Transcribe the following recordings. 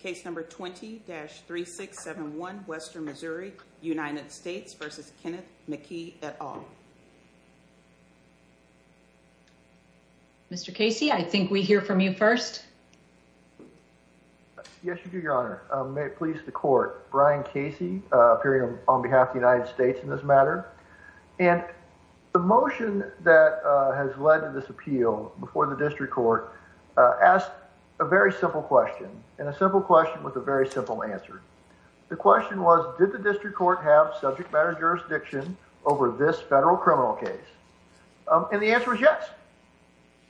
Case number 20-3671, Western Missouri, United States v. Kenneth McKee, et al. Mr. Casey, I think we hear from you first. Yes, you do, Your Honor. May it please the court, Brian Casey, appearing on behalf of the United States in this matter. And the motion that has led to this appeal before the district court asked a very simple question, and a simple question with a very simple answer. The question was, did the district court have subject matter jurisdiction over this federal criminal case? And the answer was yes.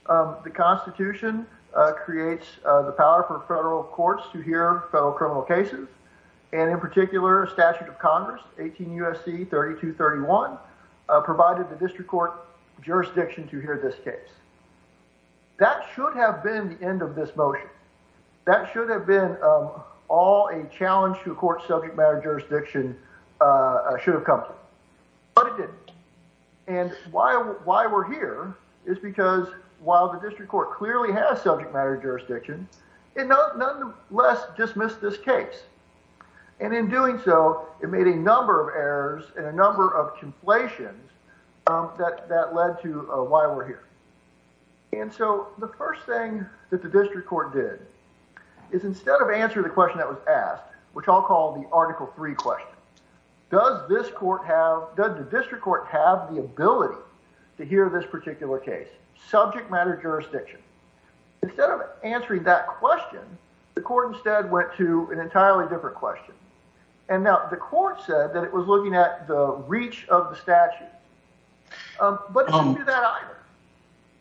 The Constitution creates the power for federal courts to hear federal criminal cases, and in particular, a statute of Congress, 18 U.S.C. 3231, provided the district court jurisdiction to hear this case. That should have been the end of this motion. That should have been all a challenge to court subject matter jurisdiction should have come to. But it didn't. And why we're here is because while the district court clearly has subject matter jurisdiction, it nonetheless dismissed this case. And in doing so, it made a number of errors and a number of conflations that led to why we're here. And so the first thing that the district court did is instead of answering the question that was asked, which I'll call the Article III question, does the district court have the ability to hear this particular case, subject matter jurisdiction? Instead of answering that question, the court instead went to an entirely different question. And now the court said that it was looking at the reach of the statute. But it didn't do that either.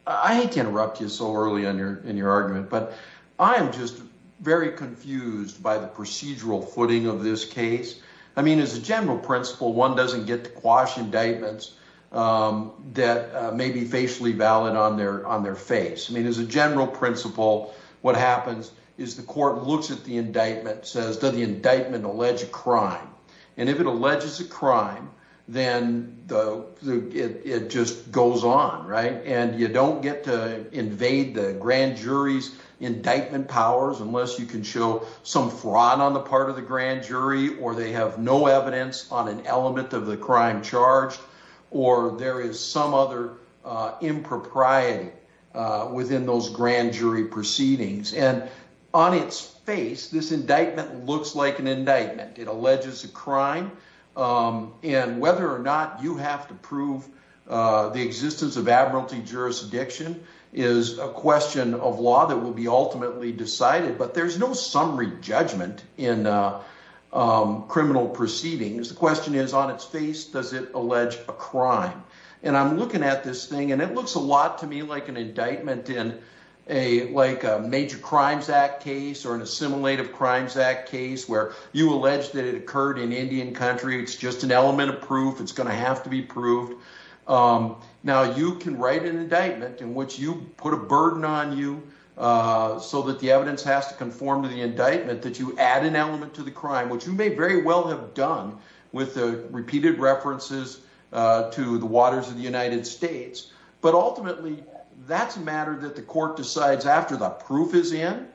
I hate to interrupt you so early in your argument, but I am just very confused by the procedural footing of this case. I mean, as a general principle, one doesn't get to quash indictments that may be facially valid on their face. I mean, as a general principle, what happens is the court looks at the indictment, says, does the indictment allege a crime? And if it alleges a crime, then it just goes on, right? And you don't get to invade the grand jury's indictment powers unless you can show some fraud on the part of the grand jury or they have no charge or there is some other impropriety within those grand jury proceedings. And on its face, this indictment looks like an indictment. It alleges a crime. And whether or not you have to prove the existence of admiralty jurisdiction is a question of law that will be ultimately decided. But there's no summary judgment in criminal proceedings. The question is, on its face, does it allege a crime? And I'm looking at this thing and it looks a lot to me like an indictment in a major crimes act case or an assimilative crimes act case where you allege that it occurred in Indian country. It's just an element of proof. It's going to have to be proved. Now you can write an indictment in which you put a burden on you so that the evidence has to conform to the indictment that you add an element to the crime, which you may well have done with the repeated references to the waters of the United States. But ultimately, that's a matter that the court decides after the proof is in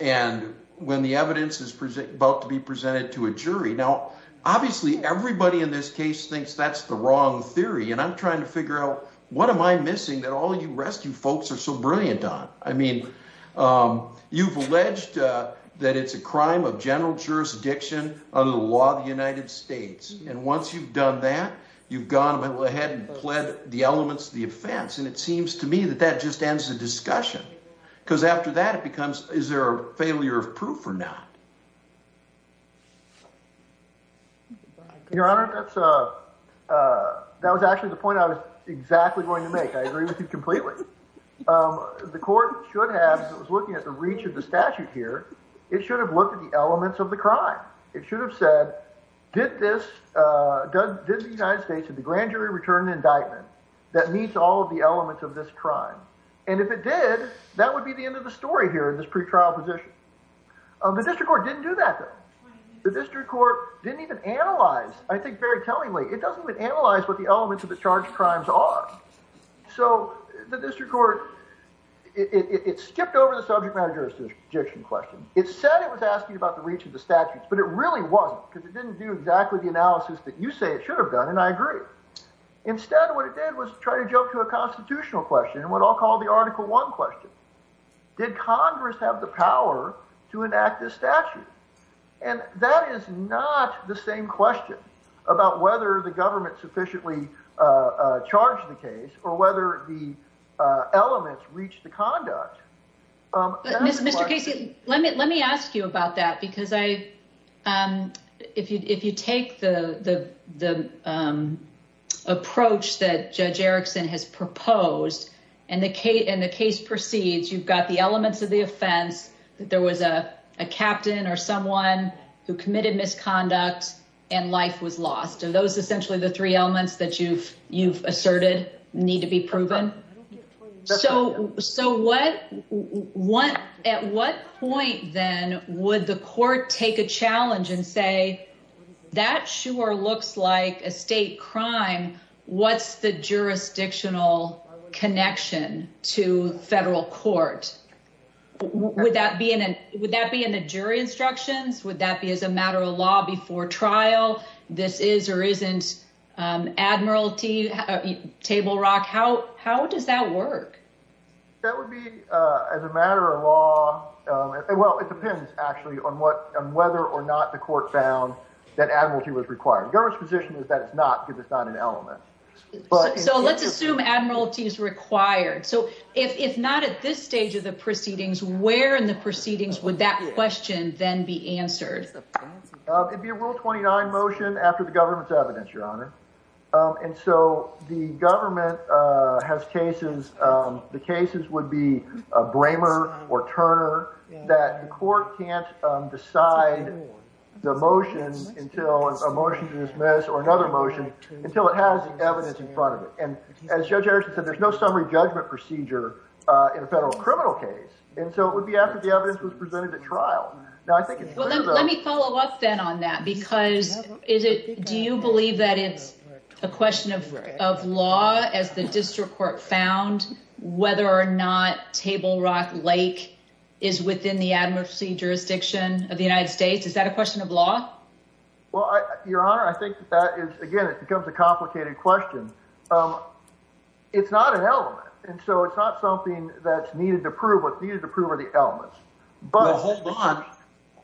and when the evidence is about to be presented to a jury. Now, obviously, everybody in this case thinks that's the wrong theory. And I'm trying to figure out what am I missing that all of you rescue folks are so brilliant on? I mean, um, you've alleged, uh, that it's a crime of general jurisdiction under the law of the United States. And once you've done that, you've gone ahead and pled the elements of the offense. And it seems to me that that just ends the discussion because after that it becomes, is there a failure of proof or not? Your honor, that's, uh, uh, that was actually the point I was exactly going to make. I agree with you completely. Um, the court should have, as it was looking at the reach of the statute here, it should have looked at the elements of the crime. It should have said, did this, uh, Doug, did the United States have the grand jury return indictment that meets all of the elements of this crime? And if it did, that would be the end of the story here in this pre-trial position. Um, the district court didn't do that though. The district court didn't even analyze, I think very tellingly, it doesn't even analyze what elements of the charged crimes are. So the district court, it skipped over the subject matter jurisdiction question. It said it was asking about the reach of the statutes, but it really wasn't because it didn't do exactly the analysis that you say it should have done. And I agree. Instead of what it did was try to jump to a constitutional question and what I'll call the article one question. Did Congress have the power to enact this statute? And that is not the same question about whether the government sufficiently, uh, charged the case or whether the, uh, elements reached the conduct. Um, Mr. Casey, let me, let me ask you about that because I, um, if you, if you take the, the, the, um, approach that judge Erickson has proposed and the case and the case proceeds, you've got the elements of the offense that there was a captain or someone who committed misconduct and life was lost. And those essentially the three elements that you've, you've asserted need to be proven. So, so what, what, at what point then would the court take a challenge and say, that sure looks like a state crime. What's the jurisdictional connection to federal court? Would that be in an, would that be in the jury instructions? Would that be as a matter of law before trial? This is, or isn't, um, Admiralty table rock. How, how does that work? That would be, uh, as a matter of law. Um, well, it depends actually on what, whether or not the court found that Admiralty was required. The government's position is that it's not good. It's not an So let's assume Admiralty is required. So if, if not at this stage of the proceedings, where in the proceedings would that question then be answered? It'd be a rule 29 motion after the government's evidence, your honor. Um, and so the government, uh, has cases, um, the cases would be a braver or Turner that the court can't, um, decide the motions until it's a motion to dismiss or another motion until it has evidence in front of it. And as judge Harrison said, there's no summary judgment procedure, uh, in a federal criminal case. And so it would be after the evidence was presented at trial. Now, I think let me follow up then on that because is it, do you believe that it's a question of, of law as the district court found whether or not table rock Lake is within the Admiralty jurisdiction of the United States? Is that a question of law? Well, I, your honor, I think that is, again, it becomes a complicated question. Um, it's not an element. And so it's not something that's needed to prove what's needed to prove are the elements, but hold on,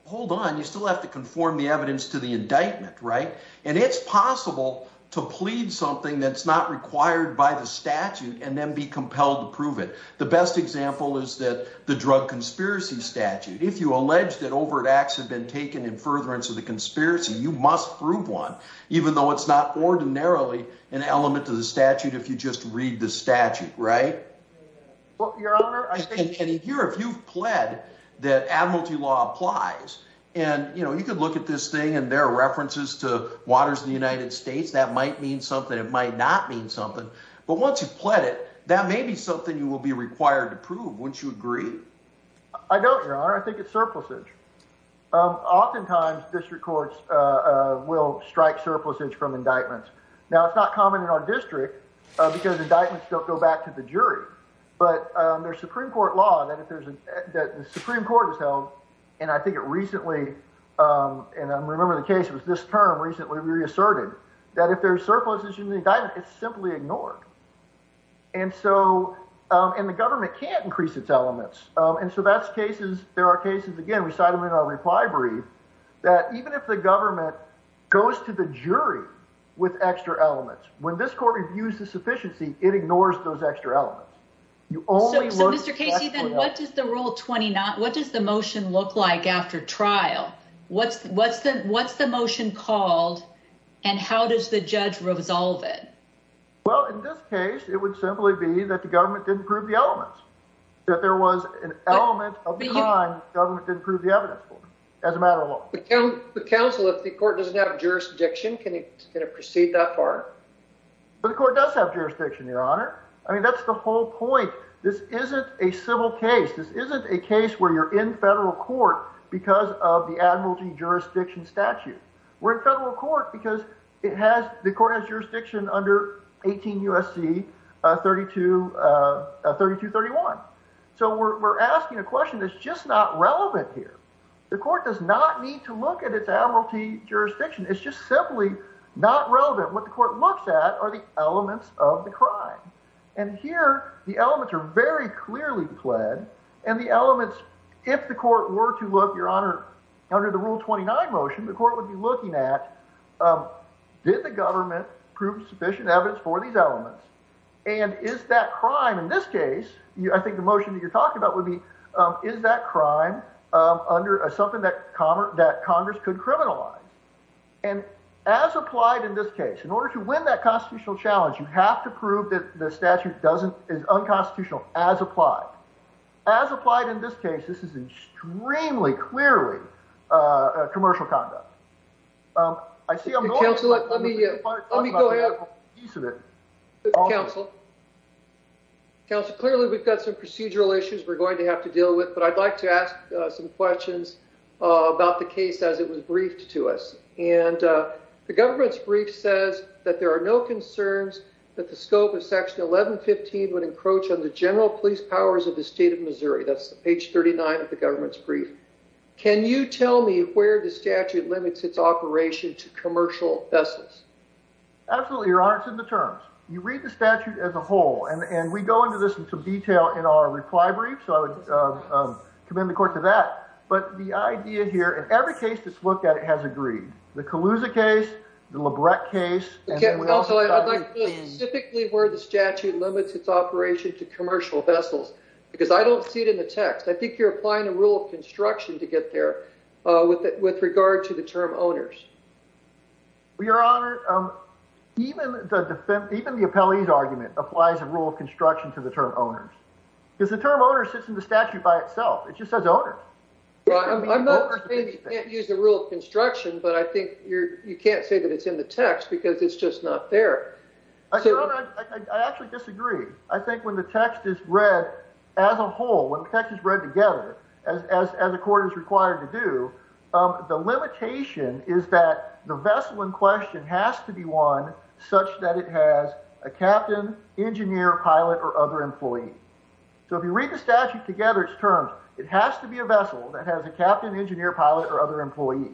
hold on. You still have to conform the evidence to the indictment, right? And it's possible to plead something that's not required by the statute and then be compelled to prove it. The best example is that the drug conspiracy statute. If you allege that overt acts had been taken in furtherance of the conspiracy, you must prove one, even though it's not ordinarily an element to the statute. If you just read the statute, right? Well, your honor, I think in here, if you've pled that Admiralty law applies and you know, you could look at this thing and there are references to waters in the United States, that might mean something. It might not mean something, but once you've pled it, that may be something you will be required to prove once you agree. I don't, your honor. I think it's surplusage. Um, oftentimes district courts, uh, uh, will strike surplusage from indictments. Now it's not common in our district because the indictments don't go back to the jury, but, um, there's Supreme court law that if there's a, that the Supreme court is held. And I think it recently, um, and I'm remembering the case was this term recently reasserted that if there's surplus issue in the indictment, it's simply ignored. And so, um, and the government can't increase its elements. Um, and so that's cases, there are cases, again, we cited them in our reply brief that even if the government goes to the jury with extra elements, when this court reviews the sufficiency, it ignores those extra elements. You only, so Mr. Casey, then what does the rule 20 not, what does the motion look like after trial? What's what's the, what's the motion called and how does the judge resolve it? Well, in this case, it would simply be that the government didn't prove the elements that there was an element of the time government didn't prove the evidence for as a matter of law, the council, if the court doesn't have jurisdiction, can it proceed that far? But the court does have jurisdiction, your honor. I mean, that's the whole point. This isn't a civil case. This isn't a case where you're in federal court because of the Admiralty 18 USC, uh, 32, uh, uh, 32, 31. So we're, we're asking a question that's just not relevant here. The court does not need to look at its Admiralty jurisdiction. It's just simply not relevant. What the court looks at are the elements of the crime. And here the elements are very clearly pled and the elements, if the court were to look, your honor, under the rule 29 motion, the court would be looking at, um, did the government prove sufficient evidence for these elements? And is that crime in this case? You, I think the motion that you're talking about would be, um, is that crime, um, under a something that commerce that Congress could criminalize and as applied in this case, in order to win that constitutional challenge, you have to prove that the statute doesn't is unconstitutional as applied, as applied in this case, this is extremely clearly, uh, commercial conduct. Um, I see. I'm going to let me, let me go ahead. Counsel counsel, clearly we've got some procedural issues we're going to have to deal with, but I'd like to ask some questions about the case as it was briefed to us. And, uh, the government's brief says that there are no concerns that the scope of section 1115 would encroach on the general police powers of the state of Missouri. That's the page 39 of the government's brief. Can you tell me where the statute limits its operation to commercial vessels? Absolutely. Your honor. It's in the terms you read the statute as a whole, and we go into this in some detail in our reply brief. So I would, um, um, commend the court to that, but the idea here, in every case that's looked at, it has agreed the Colusa case, the Labreck case. I'd like to specifically where the statute limits its operation to commercial vessels, because I don't see it in the text. I think you're applying a rule of construction to get there, uh, with, with regard to the term owners. We are honored. Um, even the defense, even the appellee's argument applies a rule of construction to the term owners because the term owner sits in the statute by itself. It just says owner. I'm not saying you can't use the rule of construction, but I think you're, you can't say it's in the text because it's just not there. I actually disagree. I think when the text is read as a whole, when the text is read together, as, as, as the court is required to do, um, the limitation is that the vessel in question has to be one such that it has a captain, engineer, pilot, or other employee. So if you read the statute together, it's terms, it has to be a vessel that has a captain, engineer, pilot, or other employee,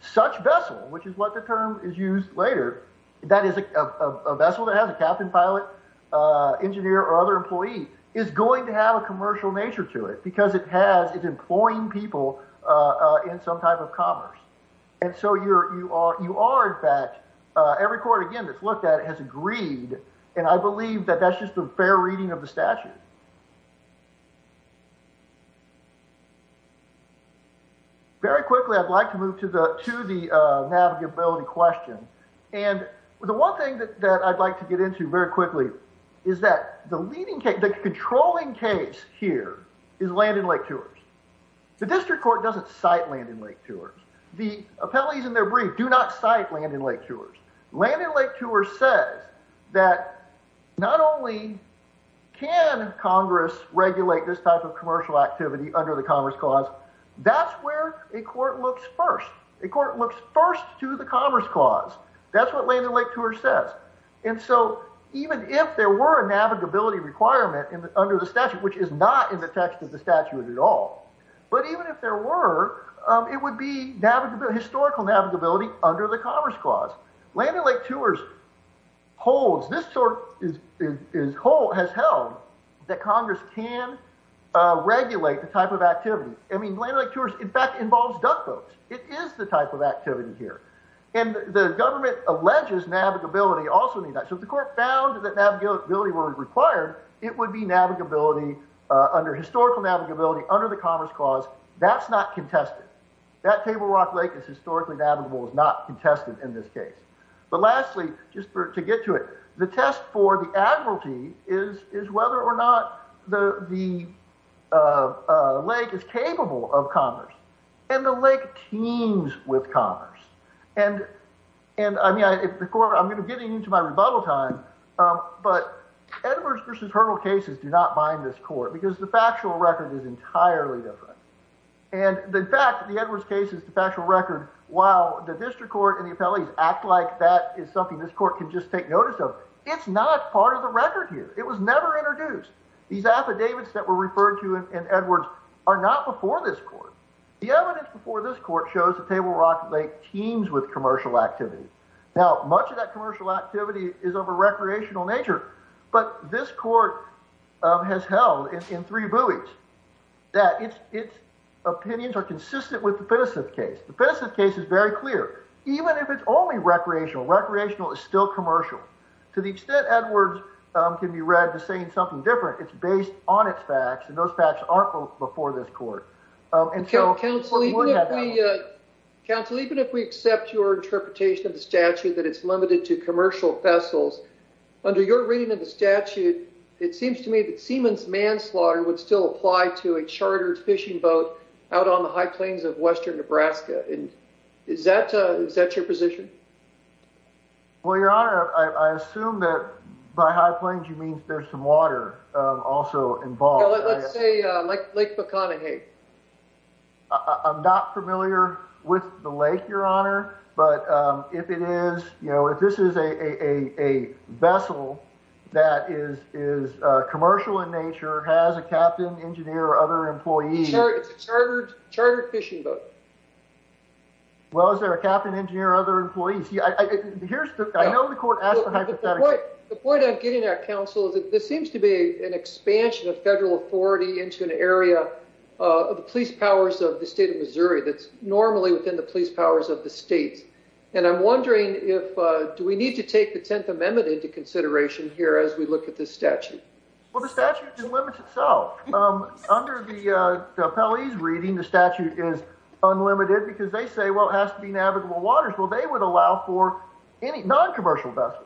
such vessel, which is what the is used later. That is a vessel that has a captain, pilot, uh, engineer, or other employee is going to have a commercial nature to it because it has, it's employing people, uh, in some type of commerce. And so you're, you are, you are in fact, uh, every court again, that's looked at it has agreed. And I believe that that's just a fair reading of the statute. Okay. Very quickly, I'd like to move to the, to the, uh, navigability question. And the one thing that I'd like to get into very quickly is that the leading case, the controlling case here is Landon Lake Tours. The district court doesn't cite Landon Lake Tours. The appellees in their brief do not cite Landon Lake Tours. Landon Lake Tours says that not only can Congress regulate this type of commercial activity under the commerce clause, that's where a court looks first. A court looks first to the commerce clause. That's what Landon Lake Tours says. And so even if there were a navigability requirement under the statute, which is not in the text of the statute at all, but even if there were, um, it would be navigability, historical navigability under the commerce clause. Landon Lake Tours holds, this sort is, is, has held that Congress can, uh, regulate the type of activity. I mean, Landon Lake Tours in fact involves duck boats. It is the type of activity here. And the government alleges navigability also in that. So if the court found that navigability were required, it would be navigability, uh, under historical navigability under the commerce clause. That's not contested. That Table Rock Lake is historically navigable, is not contested in this case. But lastly, just for, to get to it, the test for the admiralty is, is whether or not the, the, uh, uh, lake is capable of commerce and the lake teems with commerce. And, and I mean, I, if the court, I'm going to get into my rebuttal time, um, but Edwards v. Hurdle cases do not bind this court because the factual record is entirely different. And the fact that the Edwards case is the factual record, while the district court and the appellees act like that is something this court can just take notice of, it's not part of the record here. It was never introduced. These affidavits that were referred to in Edwards are not before this court. The evidence before this court shows the Table Rock Lake teems with commercial activity. Now, much of that commercial activity is of a recreational nature, but this court has held in three buoys that it's, it's opinions are consistent with the Pinnoseth case. The Pinnoseth case is very clear. Even if it's only recreational, recreational is still commercial to the extent Edwards can be read to saying something different. It's based on its facts and those facts aren't before this court. Um, and so counsel, even if we, uh, counsel, even if we accept your interpretation of the statute, that it's limited to commercial vessels under your reading of the statute, it seems to me that Siemens manslaughter would still apply to a chartered fishing boat out on the high plains of Western Nebraska. And is that, uh, is that your position? Well, your honor, I assume that by high plains, you mean there's some water, um, also involved. Let's say, uh, like Lake Bucconahague. I'm not familiar with the lake, your honor. But, um, if it is, you know, if this is a, a, a, a vessel that is, is a commercial in nature, has a captain engineer or other employees, it's a chartered, chartered fishing boat. Well, is there a captain engineer or other employees? Here's the, I know the court asked for hypothetical. The point I'm getting at counsel is that this seems to be an expansion of federal authority into an area of the police powers of the state of Missouri. That's normally within the police powers of the states. And I'm wondering if, uh, do we need to take the 10th amendment into consideration here as we look at this statute? Well, the statute limits itself. Um, under the, uh, the appellees reading the statute is unlimited because they say, well, it has to be navigable waters. Well, they would allow for any non-commercial vessel.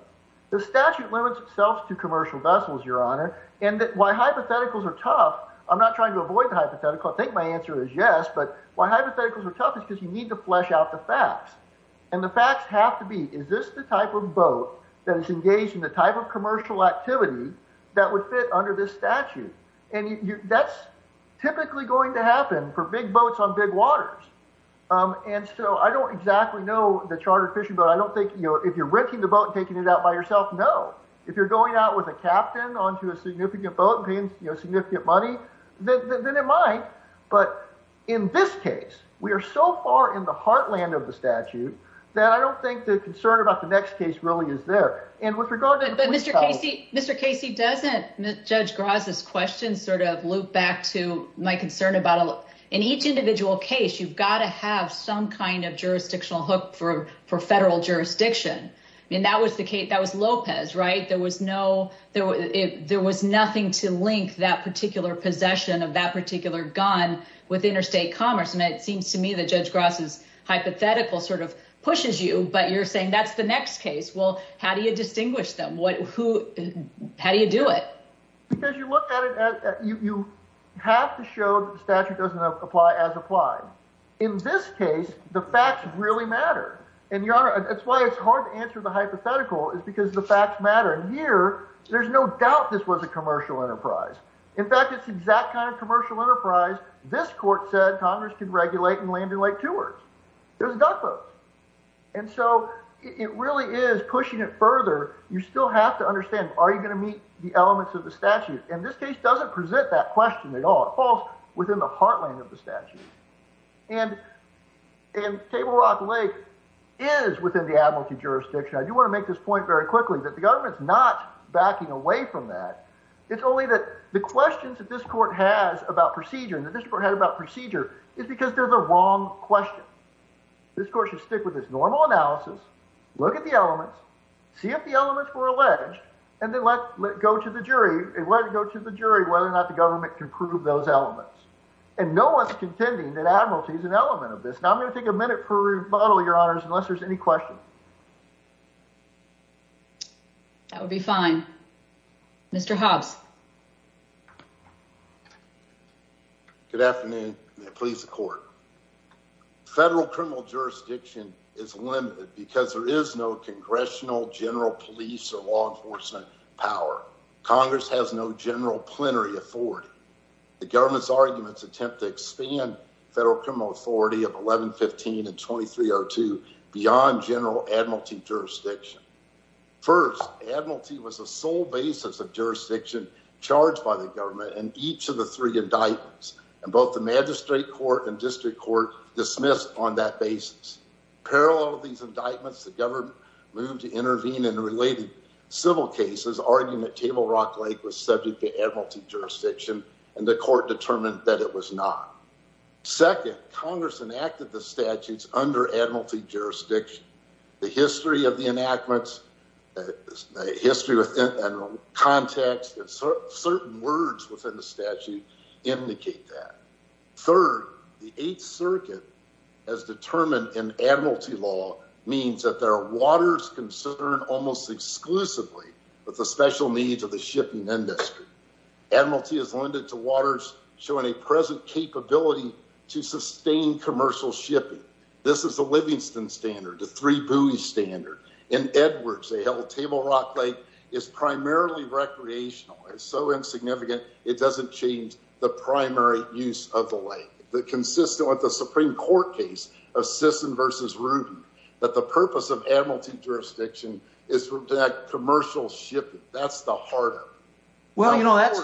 The statute limits itself to commercial vessels, your honor. And that why hypotheticals are tough. I'm not trying to avoid the hypothetical. I think my answer is yes, but why hypotheticals are tough is because you need to flesh out the facts and the facts have to be, is this the type of boat that is engaged in the type of commercial activity that would fit under this statute? And that's typically going to happen for big boats on big waters. Um, and so I don't exactly know the chartered fishing, but I don't think, you know, if you're renting the boat and taking it out by yourself, no, if you're going out with a captain onto a significant boat and paying significant money, then it might. But in this case, we are so far in the heartland of the statute that I don't think the concern about the next case really is there. And with regard to- But Mr. Casey, Mr. Casey, doesn't Judge Graza's question sort of loop back to my concern about, in each individual case, you've got to have some kind of jurisdictional hook for, for federal jurisdiction. I mean, that was the case, that was Lopez, right? There was no, there was nothing to link that particular possession of that particular gun with interstate commerce. And it seems to me that Judge Graza's hypothetical sort of pushes you, but you're saying that's the next case. Well, how do you distinguish them? What, who, how do you do it? Because you look at it, you have to show the statute doesn't apply as applied. In this case, the facts really matter. And Your Honor, that's why it's hard to answer the hypothetical, is because the facts matter. And here, there's no doubt this was a commercial enterprise. In fact, it's the exact kind of commercial enterprise this court said Congress could regulate in Landon Lake Tours. It was duck boats. And so it really is pushing it further. You still have to understand, are you going to meet the elements of the statute? And this case doesn't present that question at all. It falls within the heartland of the statute. And Table Rock Lake is within the admiralty jurisdiction. I do want to make this point very quickly, that the government's not backing away from that. It's only that the questions that this court has about procedure, and that this court had about procedure, is because they're the wrong question. This court should stick with its normal analysis, look at the elements, see if the elements were alleged, and then let go to the jury, and let it go to the jury whether or not the government can prove those elements. And no one's contending that admiralty is an element of this. Now, I'm going to take a minute for a rebuttal, your honors, unless there's any questions. That would be fine. Mr. Hobbs. Good afternoon. May it please the court. Federal criminal jurisdiction is limited because there is no congressional, general police, or law enforcement power. Congress has no general plenary authority. The government's arguments attempt to expand federal criminal authority of 1115 and 2302 beyond general admiralty jurisdiction. First, admiralty was the sole basis of jurisdiction charged by the government in each of the three indictments, and both the magistrate court and district court dismissed on that basis. Parallel to these indictments, the government moved to intervene in related civil cases, arguing that Table Rock Lake was subject to admiralty jurisdiction, and the court determined that it was not. Second, Congress enacted the statutes under admiralty jurisdiction. The history of the enactments, the history and context and certain words within the statute indicate that. Third, the Eighth Circuit has determined in admiralty law means that there are waters concerned almost exclusively with the special needs of the shipping industry. Admiralty is lended to waters showing a present capability to sustain commercial shipping. This is the Livingston Standard, the Three Buoys Standard. In Edwards, they held Table Rock Lake is primarily recreational. It's so insignificant, it doesn't change the primary use of the lake. Consistent with the Supreme Court case of Sisson v. Ruby, that the purpose of admiralty jurisdiction is for that commercial shipping. That's the heart of it. Well, you know, that's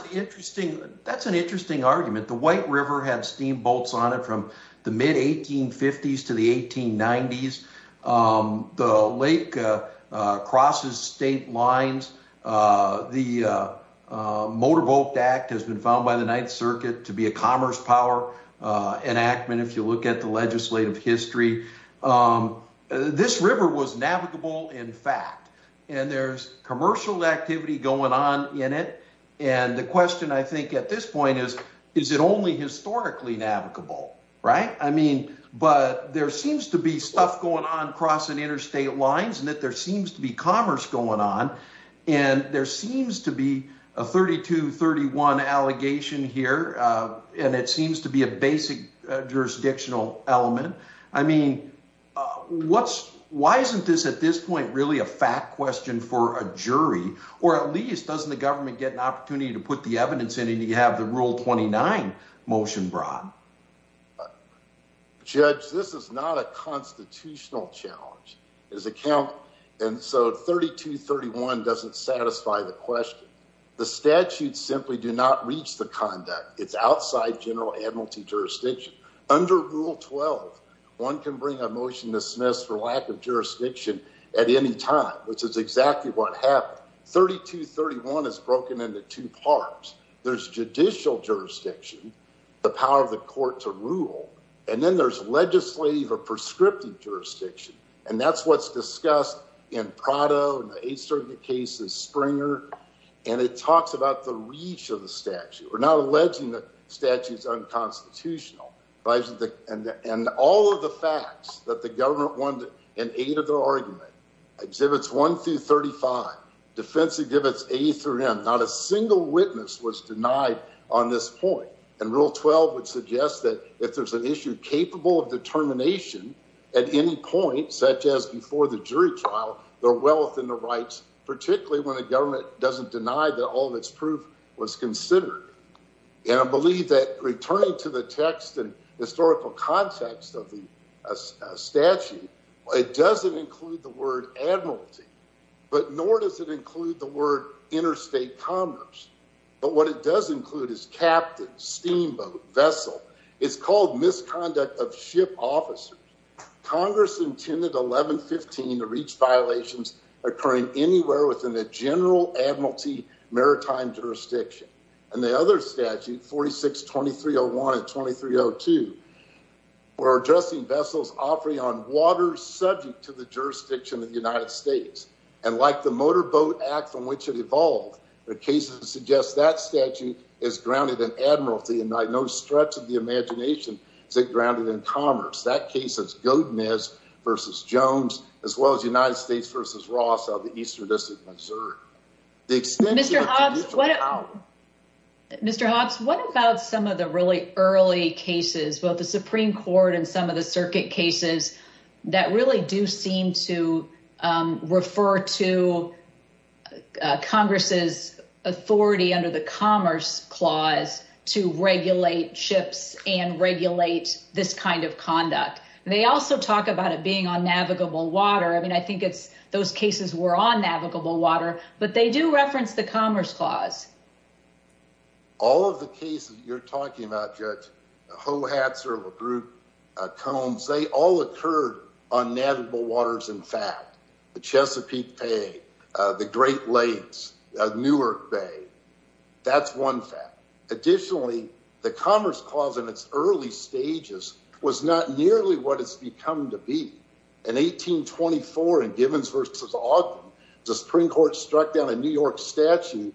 an interesting argument. The White River had steamboats on it from the mid-1850s to the 1890s. The lake crosses state lines. The Motor Boat Act has been found by the Ninth Circuit to be a commerce power enactment, if you look at the legislative history. This river was navigable, in fact, and there's commercial activity going on in it. The question, I think, at this point is, is it only historically navigable, right? I mean, but there seems to be stuff going on crossing interstate lines, and that there seems to be commerce going on. There seems to be a 32-31 allegation here, and it seems to be a basic jurisdictional element. I mean, why isn't this, at this point, really a fact question for a jury? Or at least, doesn't the government get an opportunity to put the evidence in, and you have the Rule 29 motion brought? Judge, this is not a constitutional challenge. And so 32-31 doesn't satisfy the question. The statutes simply do not reach the conduct. It's outside general admiralty jurisdiction. Under Rule 12, one can bring a time, which is exactly what happened. 32-31 is broken into two parts. There's judicial jurisdiction, the power of the court to rule, and then there's legislative or prescriptive jurisdiction, and that's what's discussed in Prado, in the Eighth Circuit case, in Springer, and it talks about the reach of the statute. We're not alleging that the statute is unconstitutional, and all of the facts that the government won in eight of their arguments, Exhibits 1 through 35, Defensive Exhibits A through M, not a single witness was denied on this point, and Rule 12 would suggest that if there's an issue capable of determination at any point, such as before the jury trial, their wealth and their rights, particularly when the government doesn't deny that all of its text and historical context of the statute, it doesn't include the word admiralty, but nor does it include the word interstate commerce, but what it does include is captain, steamboat, vessel. It's called misconduct of ship officers. Congress intended 11-15 to reach violations occurring anywhere within the general admiralty maritime jurisdiction, and the other statutes, 46-2301 and 2302, were addressing vessels operating on water subject to the jurisdiction of the United States, and like the Motor Boat Act from which it evolved, the cases suggest that statute is grounded in admiralty, and by no stretch of the imagination is it grounded in commerce. That case is Godinez versus Jones, as well as United States versus Ross of the Eastern District, Missouri. Mr. Hobbs, what about some of the really early cases, both the Supreme Court and some of the circuit cases, that really do seem to refer to Congress's authority under the Commerce Clause to regulate ships and regulate this kind of conduct. They also talk about it being on navigable water. I mean, I think it's those cases were on navigable water, but they do reference the Commerce Clause. All of the cases you're talking about, Judge, Hohatzer, LaGroote, Combs, they all occurred on navigable waters, in fact. The Chesapeake Bay, the Great Lakes, Newark Bay, that's one fact. Additionally, the Commerce Clause in its early stages was not nearly what it's become to be. In 1824, in Givens versus Ogden, the Supreme Court struck down a New York statute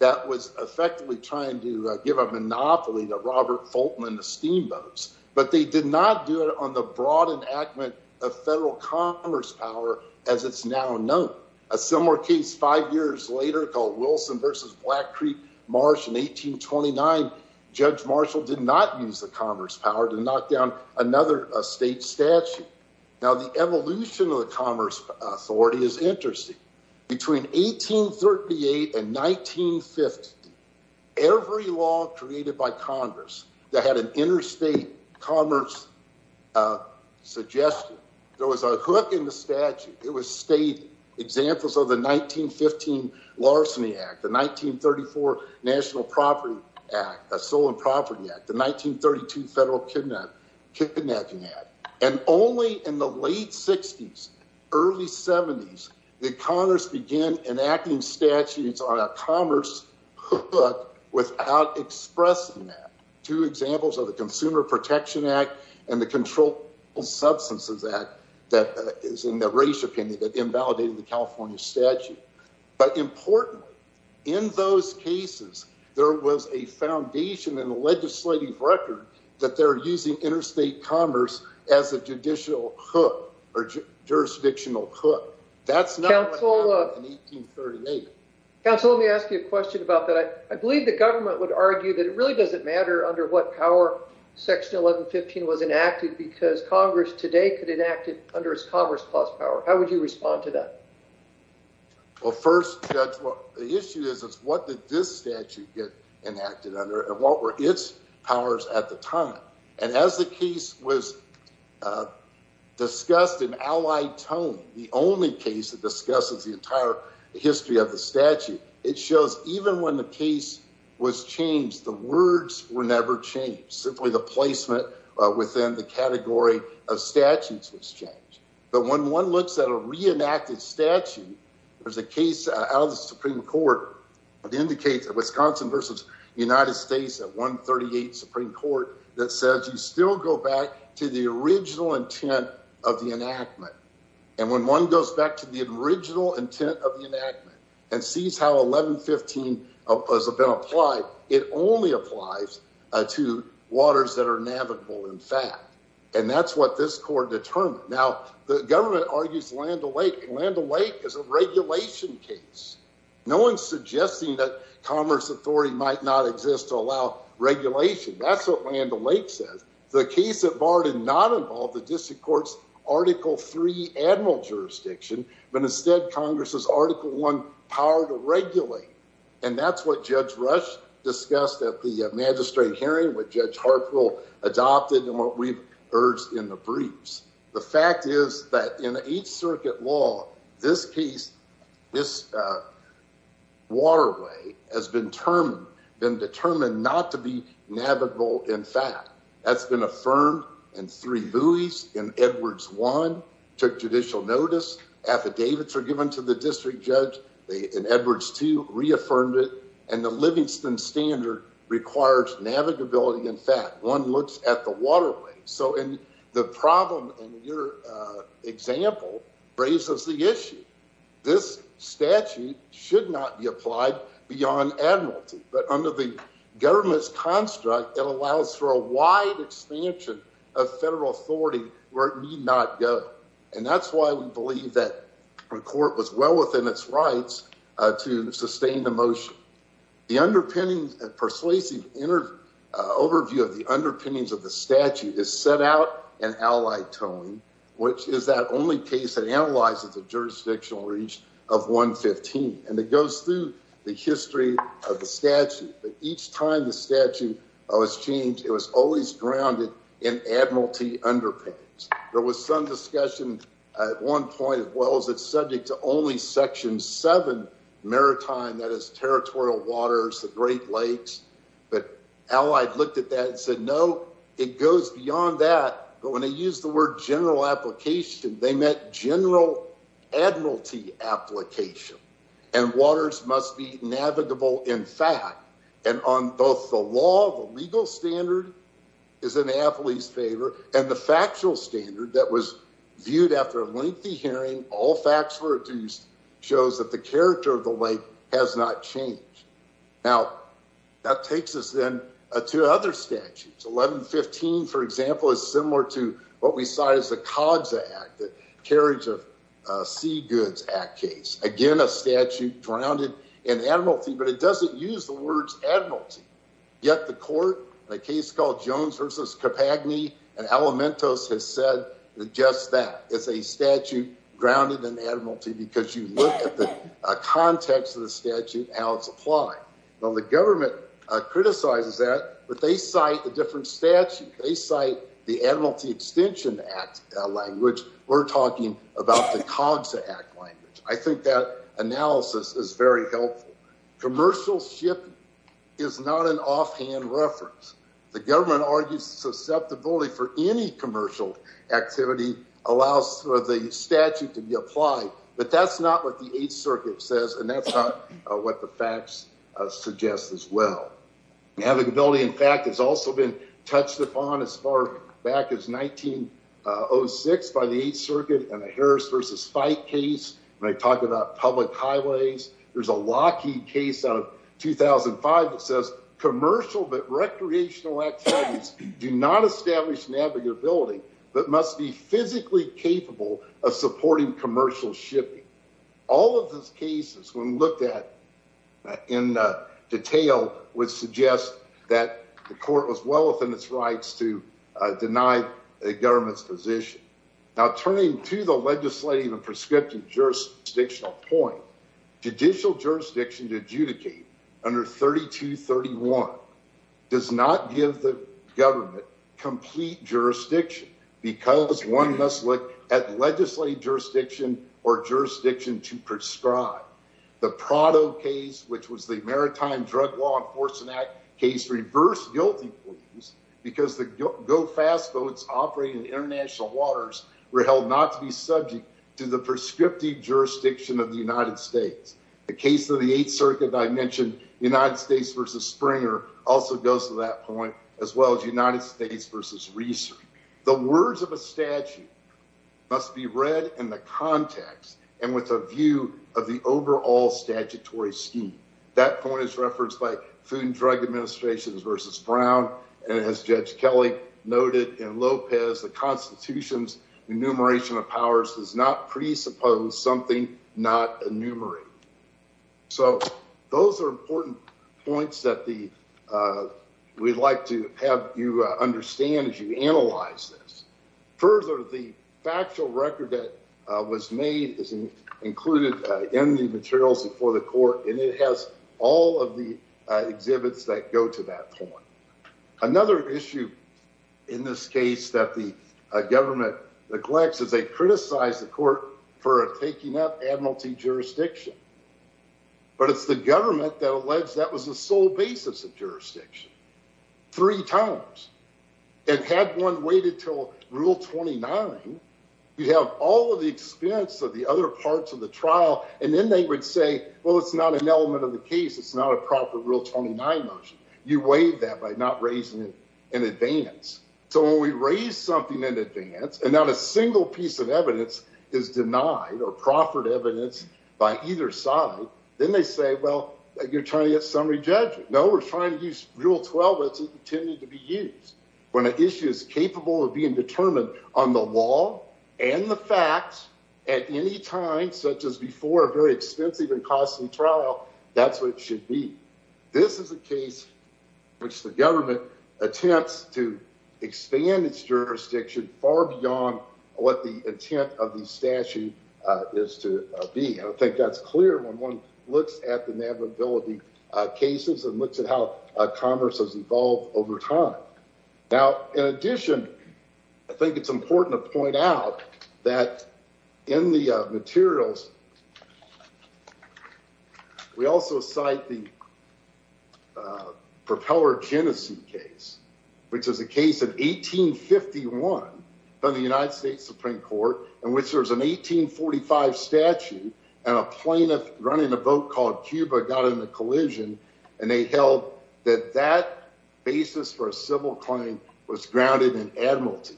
that was effectively trying to give a monopoly to Robert Fulton and the steamboats, but they did not do it on the broad enactment of federal commerce power as it's now known. A similar case five years later called Wilson versus Black Creek Marsh in 1829, Judge Marshall did not use the commerce power to knock down another state statute. Now, the evolution of the Commerce Authority is interesting. Between 1838 and 1950, every law created by Congress that had an interstate commerce suggestion, there was a hook in the statute. It was stated, examples of the 1915 Larceny Act, the 1934 National Soil and Property Act, the 1932 Federal Kidnapping Act, and only in the late 60s, early 70s, did Congress begin enacting statutes on a commerce hook without expressing that. Two examples of the Consumer Protection Act and the Controlled Substances Act that is in the race opinion that invalidated the California statute. But importantly, in those cases, there was a foundation in the legislative record that they're using interstate commerce as a judicial hook, or jurisdictional hook. That's not what happened in 1838. Council, let me ask you a question about that. I believe the government would argue that it really doesn't matter under what power Section 1115 was enacted because Congress today could enact it under its Commerce Clause power. How would you respond to that? Well, first, Judge, the issue is what did this statute get enacted under and what were its powers at the time? And as the case was discussed in allied tone, the only case that discusses the entire history of the statute, it shows even when the case was changed, the words were never changed. Simply the placement within the category of statutes was changed. But when one looks at a reenacted statute, there's a case out of the Supreme Court that indicates that Wisconsin versus United States at 138 Supreme Court that says you still go back to the original intent of the enactment. And when one goes back to the original intent of the enactment and sees how Section 1115 has been applied, it only applies to waters that are navigable in fact. And that's what this court determined. Now, the government argues Land O'Lake. Land O'Lake is a regulation case. No one's suggesting that Commerce Authority might not exist to allow regulation. That's what Land O'Lake says. The case at bar did not involve the District Court's Article III admiral jurisdiction, but instead Congress's Article I power to regulate. And that's what Judge Rush discussed at the magistrate hearing, what Judge Hartful adopted, and what we've urged in the briefs. The fact is that in the Eighth Circuit law, this case, this waterway has been determined not to be navigable in fact. That's been affirmed in three buoys in Edwards I, took judicial notice, affidavits are given to the district judge in Edwards II, reaffirmed it, and the Livingston Standard requires navigability in fact. One looks at the waterway. So the problem in your example raises the issue. This statute should not be applied beyond admiralty. But under the government's construct, it allows for a wide expansion of federal authority where it need not go. And that's why we believe that the court was well within its rights to sustain the motion. The underpinning persuasive overview of the underpinnings of the statute is set out in Allied Towing, which is that only case that analyzes the jurisdictional reach of 115. And it goes through the history of the statute. But each time the admiralty underpins. There was some discussion at one point as well as it's subject to only section 7 maritime, that is territorial waters, the Great Lakes. But Allied looked at that and said no, it goes beyond that. But when they used the word general application, they meant general admiralty application. And waters must be navigable in fact. And on both the law, legal standard is in AFL-E's favor. And the factual standard that was viewed after a lengthy hearing, all facts were reduced, shows that the character of the lake has not changed. Now, that takes us then to other statutes. 1115, for example, is similar to what we saw as the COGSA Act, the Carriage of Sea Goods Act case. Again, a statute grounded in admiralty. But it is called Jones v. Capagni and Alimentos has said just that. It's a statute grounded in admiralty because you look at the context of the statute and how it's applied. Well, the government criticizes that. But they cite a different statute. They cite the Admiralty Extension Act language. We're talking about the COGSA Act language. I think that analysis is very helpful. Commercial shipping is not an offhand reference. The government argues susceptibility for any commercial activity allows for the statute to be applied. But that's not what the Eighth Circuit says, and that's not what the facts suggest as well. Navigability, in fact, has also been touched upon as far back as 1906 by the Eighth Circuit in the Harris v. Fyke case, when they talk about public highways. There's a Lockheed case out of 2005 that says commercial but recreational activities do not establish navigability but must be physically capable of supporting commercial shipping. All of those cases, when looked at in detail, would suggest that the court was well within its rights to deny a government's position. Now, turning to the legislative and prescriptive jurisdictional point, judicial jurisdiction to adjudicate under 3231 does not give the government complete jurisdiction because one must look at legislative jurisdiction or jurisdiction to prescribe. The Prado case, which was the Maritime Drug Law Enforcement Act case, reversed guilty pleas because the GO-FAST boats operating in international waters were held not to be subject to the prescriptive jurisdiction of the United States. The case of the Eighth Circuit that I mentioned, United States v. Springer, also goes to that point, as well as United States v. Reeser. The words of a statute must be read in the context and with a view of the overall statutory scheme. That point is referenced by Food and Drug Administration v. Brown, and as Judge Kelly noted in Lopez, the Constitution's enumeration of powers does not presuppose something not enumerated. So, those are important points that we'd like to have you understand as you analyze this. Further, the factual record that was made is included in the materials before the court, and it has all of the exhibits that go to that point. Another issue in this case that the government neglects is they criticize the court for taking up admiralty jurisdiction, but it's the government that alleged that was the sole basis of jurisdiction three times, and had one waited till Rule 29, you'd have all of the experience of the other say, well, it's not an element of the case. It's not a proper Rule 29 motion. You waive that by not raising it in advance. So, when we raise something in advance, and not a single piece of evidence is denied or proffered evidence by either side, then they say, well, you're trying to get summary judgment. No, we're trying to use Rule 12. It's intended to be used when an issue is capable of being determined on the law and the facts at any time, such as before a very costly trial, that's what it should be. This is a case in which the government attempts to expand its jurisdiction far beyond what the intent of the statute is to be. I think that's clear when one looks at the admiralty cases and looks at how commerce has evolved over time. Now, in addition, I think it's important to point out that in the materials, we also cite the propeller genocide case, which is a case of 1851 from the United States Supreme Court, in which there's an 1845 statute, and a plaintiff running a vote called Cuba got in a admiralty.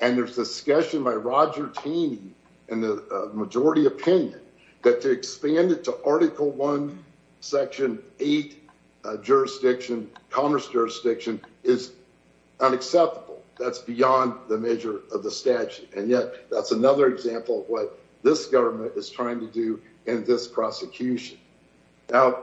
And there's discussion by Roger Taney and the majority opinion that to expand it to Article 1, Section 8 commerce jurisdiction is unacceptable. That's beyond the measure of the statute. And yet, that's another example of what this government is trying to do in this prosecution. Now,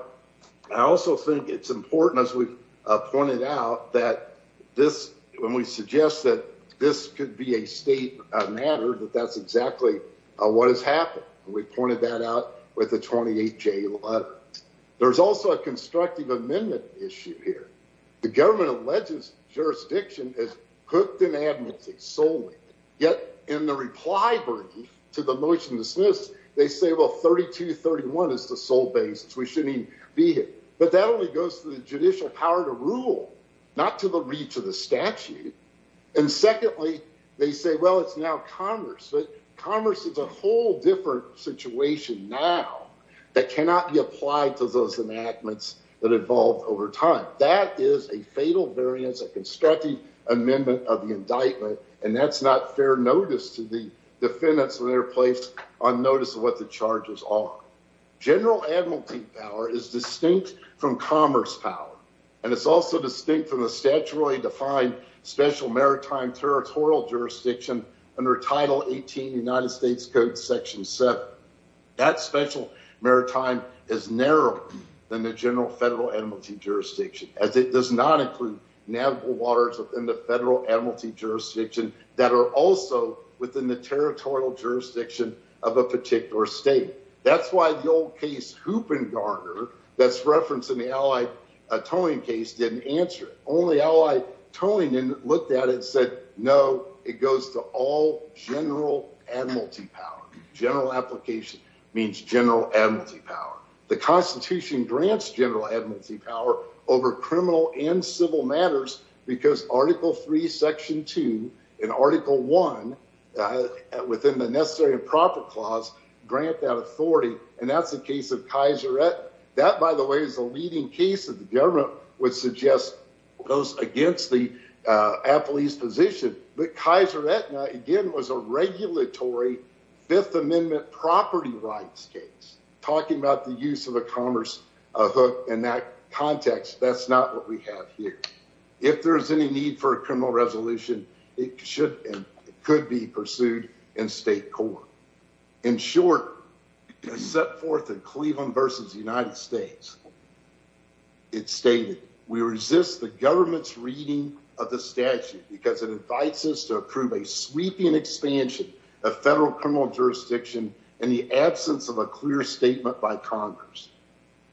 I also think it's important, as we've pointed out, that this, when we suggest that this could be a state matter, that that's exactly what has happened. And we pointed that out with the 28-J letter. There's also a constructive amendment issue here. The government alleges jurisdiction is hooked in admiralty solely. Yet, in the reply brief to the motion dismissed, they say, well, 3231 is the sole basis. We shouldn't even be here. But that only goes to the judicial power to rule, not to the reach of the statute. And secondly, they say, well, it's now commerce. But commerce is a whole different situation now that cannot be applied to those enactments that evolved over time. That is a fatal variance, a constructive amendment of indictment. And that's not fair notice to the defendants when they're placed on notice of what the charges are. General admiralty power is distinct from commerce power. And it's also distinct from the statutorily defined special maritime territorial jurisdiction under Title 18 United States Code, Section 7. That special maritime is narrower than the general federal admiralty jurisdiction, as it does not include navigable waters within the federal admiralty jurisdiction that are also within the territorial jurisdiction of a particular state. That's why the old case Hoop and Garner that's referenced in the Allied towing case didn't answer it. Only Allied towing looked at it and said, no, it goes to all general admiralty power. General application means general admiralty power. The Constitution grants general admiralty power over criminal and civil matters because Article 3, Section 2 and Article 1 within the necessary and proper clause grant that authority. And that's the case of Kaiser Etna. That, by the way, is the leading case that the government would suggest goes against the appellee's position. But Kaiser Etna, again, was a regulatory Fifth Amendment property rights case. Talking about the use of a commerce hook in that context, that's not what we have here. If there's any need for a criminal resolution, it should and could be pursued in state court. In short, set forth in Cleveland versus the United States, it stated, we resist the government's reading of the statute because it invites us to approve a sweeping expansion of federal criminal jurisdiction in the absence of a clear statement by Congress.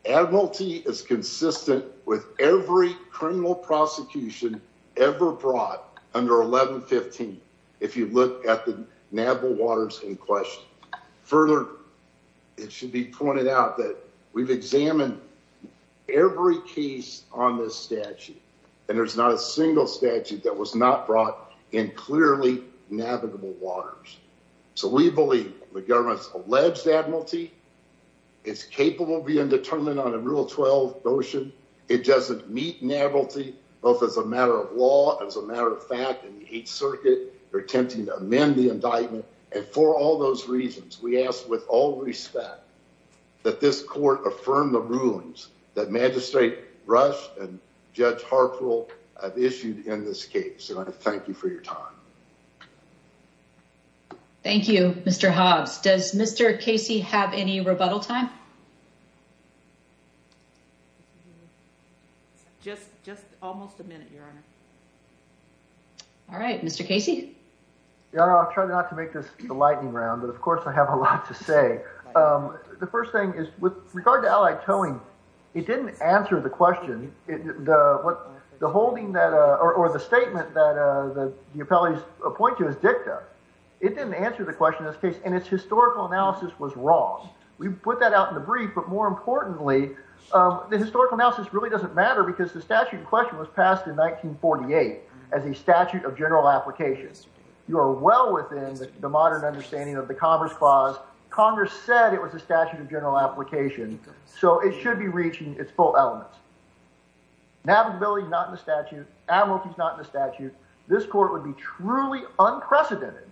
Admiralty is consistent with every criminal prosecution ever brought under 1115, if you look at the nabble waters in question. Further, it should be pointed out that we've examined every case on this statute and there's not a statute that was not brought in clearly navigable waters. So we believe the government's alleged Admiralty is capable of being determined on a Rule 12 notion. It doesn't meet Admiralty, both as a matter of law, as a matter of fact, in the 8th Circuit, they're attempting to amend the indictment. And for all those reasons, we ask with all respect that this court affirm the rulings that Magistrate Rush and Judge Hartwell have issued in this case. And I want to thank you for your time. Thank you, Mr. Hobbs. Does Mr. Casey have any rebuttal time? Just almost a minute, Your Honor. All right, Mr. Casey. Your Honor, I'll try not to make this a lightning round, but of course I have a lot to say. The first thing is, with regard to Allied Towing, it didn't answer the question, or the statement that the appellees point to as dicta. It didn't answer the question in this case, and its historical analysis was wrong. We put that out in the brief, but more importantly, the historical analysis really doesn't matter because the statute in question was passed in 1948 as a statute of general applications. You are well within the modern understanding of the Commerce Clause. Congress said it was a statute of general application, so it should be reaching its full elements. Navigability, not in the statute. Amorties, not in the statute. This court would be truly unprecedented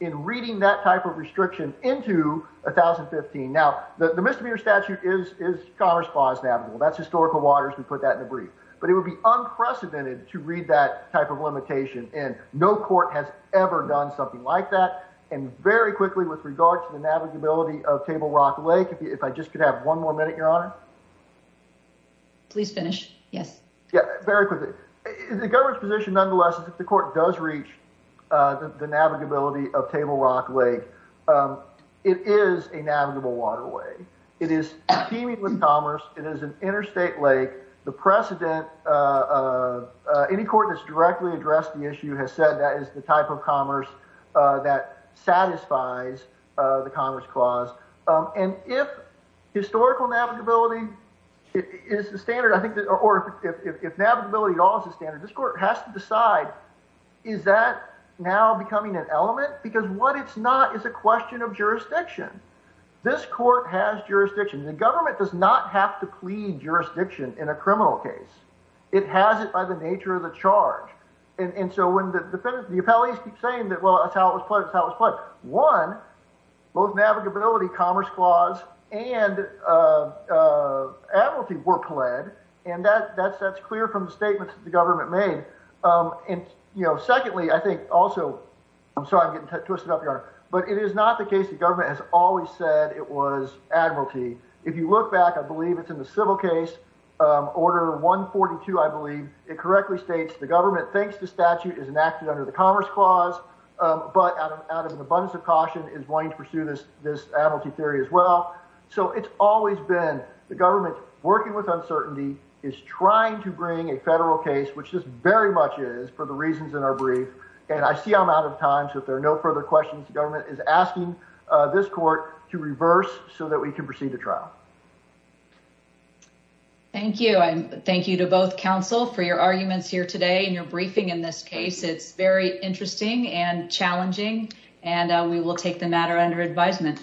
in reading that type of restriction into 1015. Now, the misdemeanor statute is Commerce Clause navigable. That's historical waters. We put that in the brief. But it would be unprecedented to read that type of limitation, and no court has ever done something like that. And very quickly, with regard to the navigability of Table Rock Lake, if I just could have one more minute, Your Honor? Please finish. Yes. Yeah, very quickly. The government's position, nonetheless, is if the court does reach the navigability of Table Rock Lake, it is a navigable waterway. It is teeming with commerce. It is an interstate lake. The precedent, any court that's directly addressed the issue has said that is the type of commerce that satisfies the Commerce Clause. And if historical navigability is the standard, or if navigability at all is the standard, this court has to decide, is that now becoming an element? Because what it's not is a question of jurisdiction. This court has jurisdiction. The government does not have to plead jurisdiction in a criminal case. It has it by the nature of the charge. And so when the appellees keep saying that, well, that's how it was pledged, that's how it was pledged, one, both navigability, Commerce Clause, and admiralty were pled, and that's clear from the statements that the government made. And, you know, secondly, I think also, I'm sorry I'm getting twisted up, Your Honor, but it is not the case the government has always said it was admiralty. If you look back, I believe it's in the civil case, Order 142, I believe, it correctly states the government, thanks to statute, is enacted under the Commerce Clause, but out of an abundance of caution is wanting to pursue this admiralty theory as well. So it's always been the government working with uncertainty is trying to bring a federal case, which this very much is for the reasons in our is asking this court to reverse so that we can proceed to trial. Thank you. And thank you to both counsel for your arguments here today and your briefing in this case. It's very interesting and challenging, and we will take the matter under advisement.